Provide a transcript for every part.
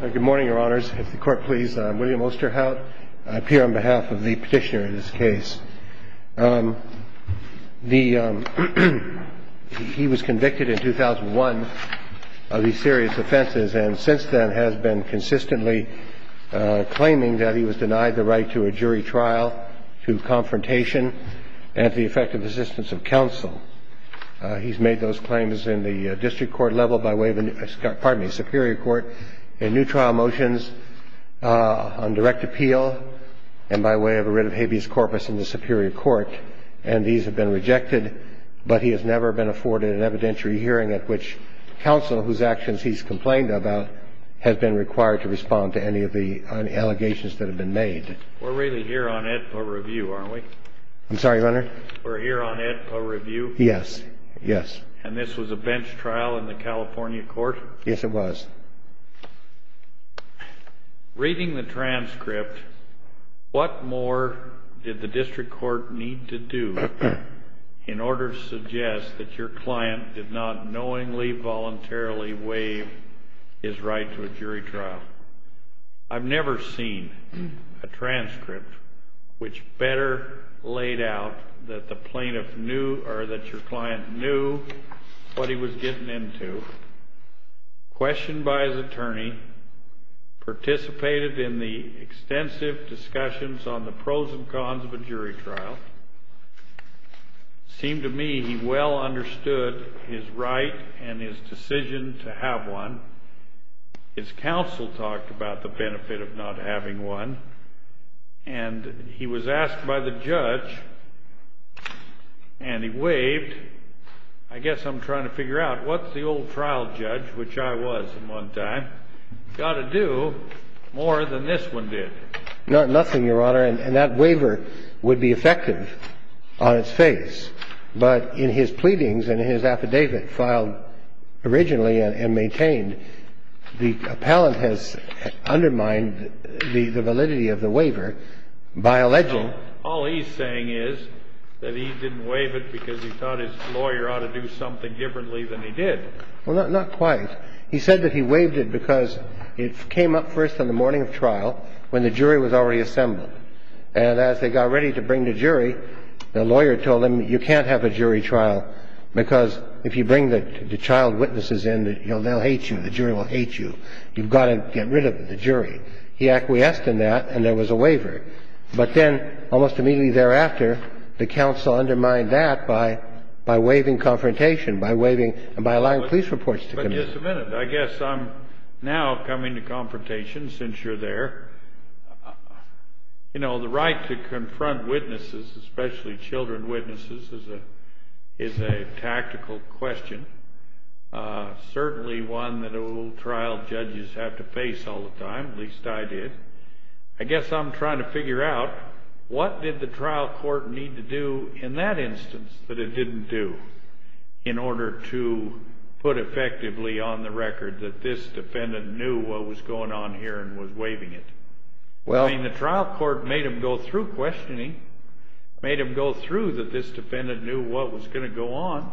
Good morning, your honors. If the court please, I'm William Osterhout. I appear on behalf of the petitioner in this case. He was convicted in 2001 of these serious offenses and since then has been consistently claiming that he was denied the right to a jury trial, to confrontation, and to the effective assistance of counsel. He's made those claims in the district court level by way of the, pardon me, superior court in new trial motions on direct appeal and by way of a writ of habeas corpus in the superior court. And these have been rejected, but he has never been afforded an evidentiary hearing at which counsel, whose actions he's complained about, has been required to respond to any of the allegations that have been made. We're really here on Edpa Review, aren't we? I'm sorry, Leonard? We're here on Edpa Review? Yes, yes. And this was a bench trial in the California court? Yes, it was. Reading the transcript, what more did the district court need to do in order to suggest that your client did not knowingly, voluntarily waive his right to a jury trial? I've never seen a transcript which better laid out that the plaintiff knew or that your client knew what he was getting into, questioned by his attorney, participated in the extensive discussions on the pros and cons of a jury trial. It seemed to me he well understood his right and his decision to have one. His counsel talked about the benefit of not having one, and he was asked by the judge, and he waived. I guess I'm trying to figure out, what's the old trial judge, which I was at one time, got to do more than this one did? Not nothing, Your Honor, and that waiver would be effective on its face. But in his pleadings and his affidavit filed originally and maintained, the appellant has undermined the validity of the waiver by alleging. So all he's saying is that he didn't waive it because he thought his lawyer ought to do something differently than he did. Well, not quite. He said that he waived it because it came up first on the morning of trial when the jury was already assembled. And as they got ready to bring the jury, the lawyer told him, you can't have a jury trial because if you bring the child witnesses in, they'll hate you. The jury will hate you. You've got to get rid of the jury. He acquiesced in that, and there was a waiver. But then almost immediately thereafter, the counsel undermined that by waiving confrontation, by waiving and by allowing police reports to come in. Just a minute. I guess I'm now coming to confrontation since you're there. You know, the right to confront witnesses, especially children witnesses, is a tactical question, certainly one that old trial judges have to face all the time, at least I did. I guess I'm trying to figure out what did the trial court need to do in that instance that it didn't do in order to put effectively on the record that this defendant knew what was going on here and was waiving it? I mean, the trial court made him go through questioning, made him go through that this defendant knew what was going to go on.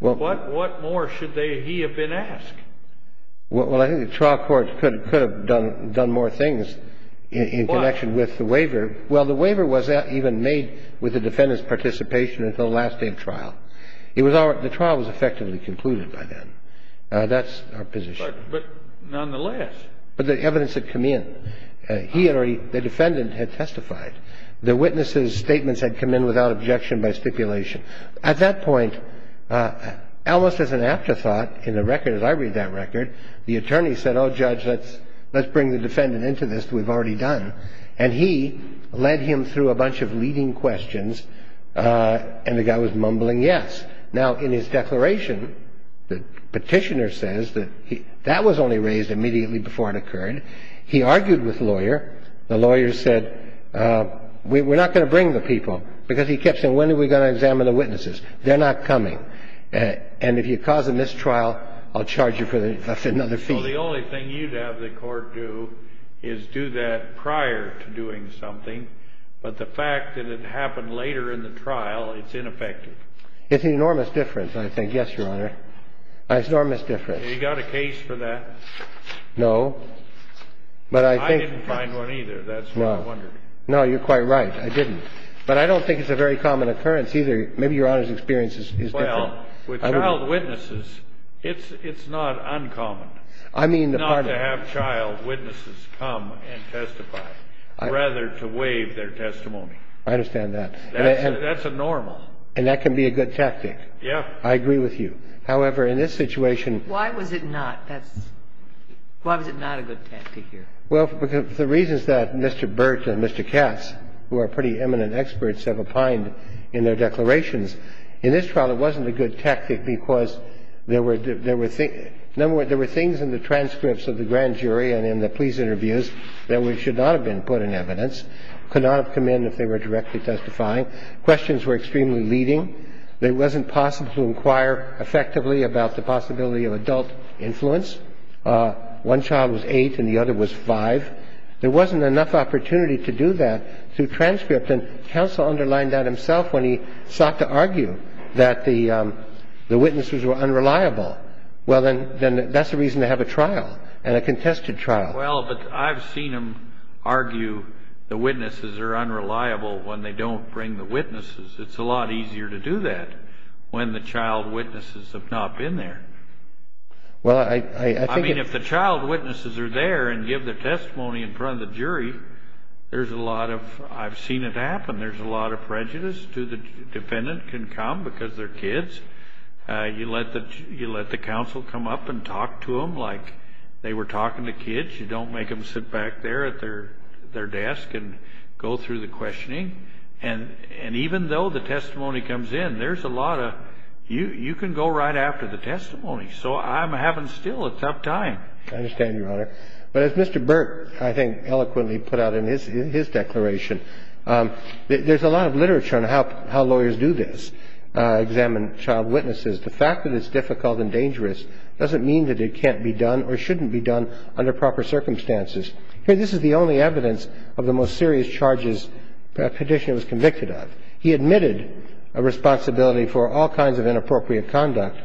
What more should he have been asked? Well, I think the trial court could have done more things in connection with the waiver. Why? Well, the waiver was even made with the defendant's participation until the last day of trial. The trial was effectively concluded by then. That's our position. But nonetheless. But the evidence had come in. The defendant had testified. The witness's statements had come in without objection by stipulation. At that point, almost as an afterthought in the record, as I read that record, the attorney said, oh, Judge, let's bring the defendant into this. We've already done. And he led him through a bunch of leading questions. And the guy was mumbling yes. Now, in his declaration, the petitioner says that that was only raised immediately before it occurred. He argued with the lawyer. The lawyer said, we're not going to bring the people, because he kept saying, when are we going to examine the witnesses? They're not coming. And if you cause a mistrial, I'll charge you for another fee. Well, the only thing you'd have the court do is do that prior to doing something. But the fact that it happened later in the trial, it's ineffective. It's an enormous difference, I think. Yes, Your Honor. An enormous difference. Have you got a case for that? No. I didn't find one, either. That's what I wondered. No, you're quite right. I didn't. But I don't think it's a very common occurrence, either. Maybe Your Honor's experience is different. Well, with child witnesses, it's not uncommon not to have child witnesses come and testify, rather to waive their testimony. I understand that. That's a normal. And that can be a good tactic. Yes. I agree with you. However, in this situation Why was it not? Why was it not a good tactic here? Well, the reasons that Mr. Bert and Mr. Cass, who are pretty eminent experts, have opined in their declarations. In this trial, it wasn't a good tactic because there were things in the transcripts of the grand jury and in the police interviews that should not have been put in evidence, could not have come in if they were directly testifying. Questions were extremely leading. It wasn't possible to inquire effectively about the possibility of adult influence. One child was eight and the other was five. There wasn't enough opportunity to do that through transcript. And counsel underlined that himself when he sought to argue that the witnesses were unreliable. Well, then that's a reason to have a trial and a contested trial. Well, but I've seen them argue the witnesses are unreliable when they don't bring the witnesses. It's a lot easier to do that when the child witnesses have not been there. Well, I think it's. I mean, if the child witnesses are there and give the testimony in front of the jury, there's a lot of... I've seen it happen. There's a lot of prejudice to the defendant can come because they're kids. You let the counsel come up and talk to them like they were talking to kids. You don't make them sit back there at their desk and go through the questioning. And even though the testimony comes in, there's a lot of... You can go right after the testimony. So I'm having still a tough time. I understand, Your Honor. But as Mr. Burke, I think, eloquently put out in his declaration, there's a lot of literature on how lawyers do this, examine child witnesses. The fact that it's difficult and dangerous doesn't mean that it can't be done or shouldn't be done under proper circumstances. Here, this is the only evidence of the most serious charges the petitioner was convicted of. He admitted a responsibility for all kinds of inappropriate conduct,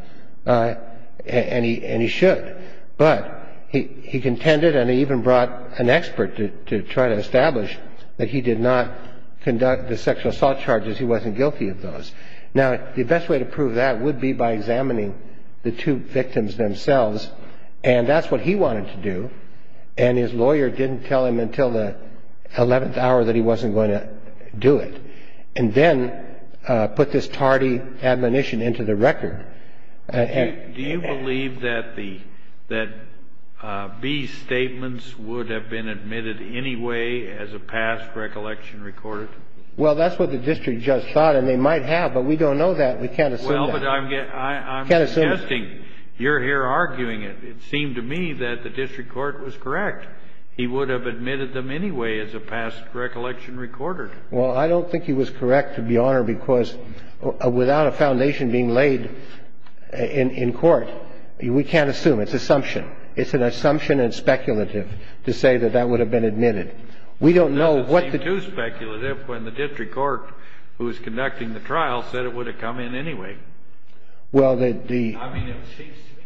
and he should. But he contended and he even brought an expert to try to establish that he did not conduct the sexual assault charges. He wasn't guilty of those. Now, the best way to prove that would be by examining the two victims themselves. And that's what he wanted to do, and his lawyer didn't tell him until the 11th hour that he wasn't going to do it, and then put this tardy admonition into the record. Do you believe that B's statements would have been admitted anyway as a past recollection recorded? Well, that's what the district judge thought, and they might have, but we don't know that. We can't assume that. Well, but I'm suggesting, you're here arguing it. It seemed to me that the district court was correct. He would have admitted them anyway as a past recollection recorded. Well, I don't think he was correct, Your Honor, because without a foundation being laid in court, we can't assume. It's assumption. It's an assumption and speculative to say that that would have been admitted. It doesn't seem too speculative when the district court who is conducting the trial said it would have come in anyway. Well, the — I mean,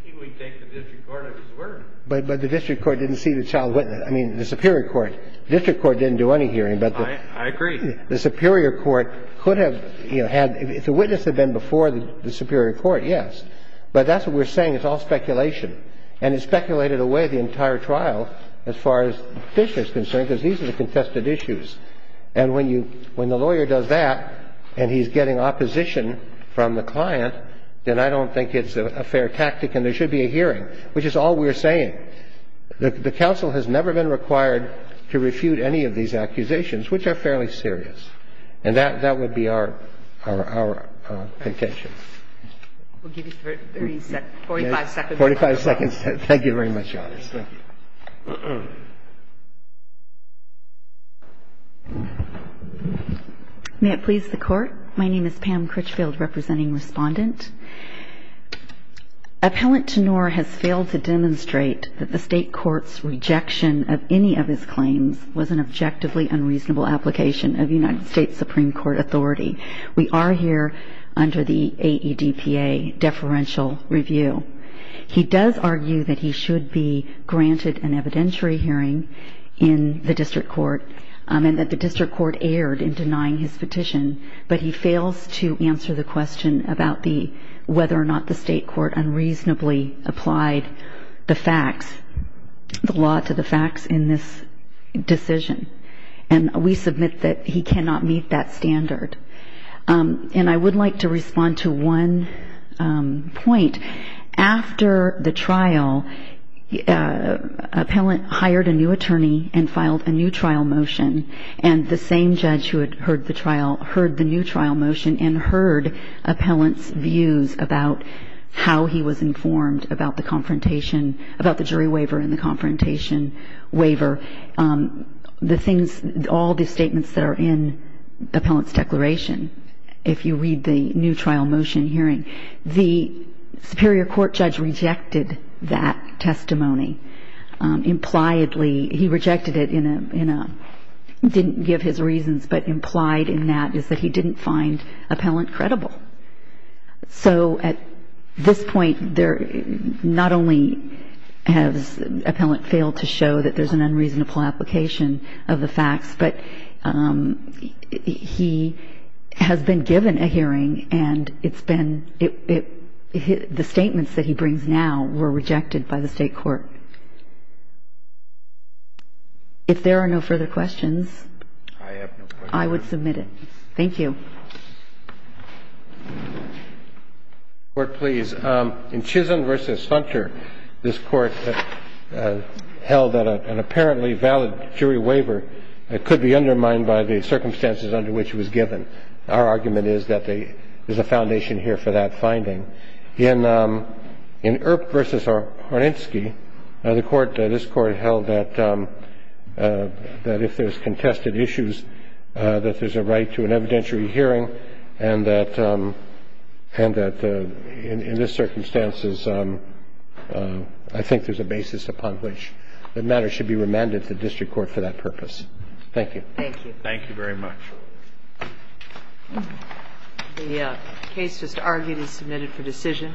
he would take the district court at his word. But the district court didn't see the child witness. I mean, the superior court. The district court didn't do any hearing, but the — I agree. The superior court could have, you know, had — if the witness had been before the superior court, yes. But that's what we're saying. It's all speculation. And it speculated away the entire trial as far as Fisher is concerned, because these are the contested issues. And when you — when the lawyer does that and he's getting opposition from the client, then I don't think it's a fair tactic and there should be a hearing, which is all we're saying. The counsel has never been required to refute any of these accusations, which are fairly serious. And that would be our contention. We'll give you 30 seconds — 45 seconds. Forty-five seconds. Thank you very much, Your Honor. Thank you. May it please the Court. My name is Pam Critchfield, representing Respondent. Appellant Tenor has failed to demonstrate that the State Court's rejection of any of his claims was an objectively unreasonable application of United States Supreme Court authority. We are here under the AEDPA deferential review. He does argue that he should be granted an evidentiary hearing in the district court and that the district court erred in denying his petition. But he fails to answer the question about the — whether or not the State Court unreasonably applied the facts — the law to the facts in this decision. And we submit that he cannot meet that standard. And I would like to respond to one point. After the trial, appellant hired a new attorney and filed a new trial motion, and the same judge who had heard the trial heard the new trial motion and heard appellant's views about how he was informed about the confrontation — the things — all the statements that are in appellant's declaration, if you read the new trial motion hearing. The superior court judge rejected that testimony. Impliedly, he rejected it in a — didn't give his reasons, but implied in that is that he didn't find appellant credible. So at this point, there — not only has appellant failed to show that there's an unreasonable application of the facts, but he has been given a hearing, and it's been — the statements that he brings now were rejected by the State Court. If there are no further questions, I would submit it. Thank you. Court, please. In Chisholm v. Hunter, this Court held that an apparently valid jury waiver could be undermined by the circumstances under which it was given. Our argument is that there's a foundation here for that finding. In Earp v. Horinsky, the Court — this Court held that if there's contested issues, that there's a right to an evidentiary hearing and that in this circumstances, I think there's a basis upon which the matter should be remanded to the district court for that purpose. Thank you. Thank you. Thank you very much. The case just argued is submitted for decision.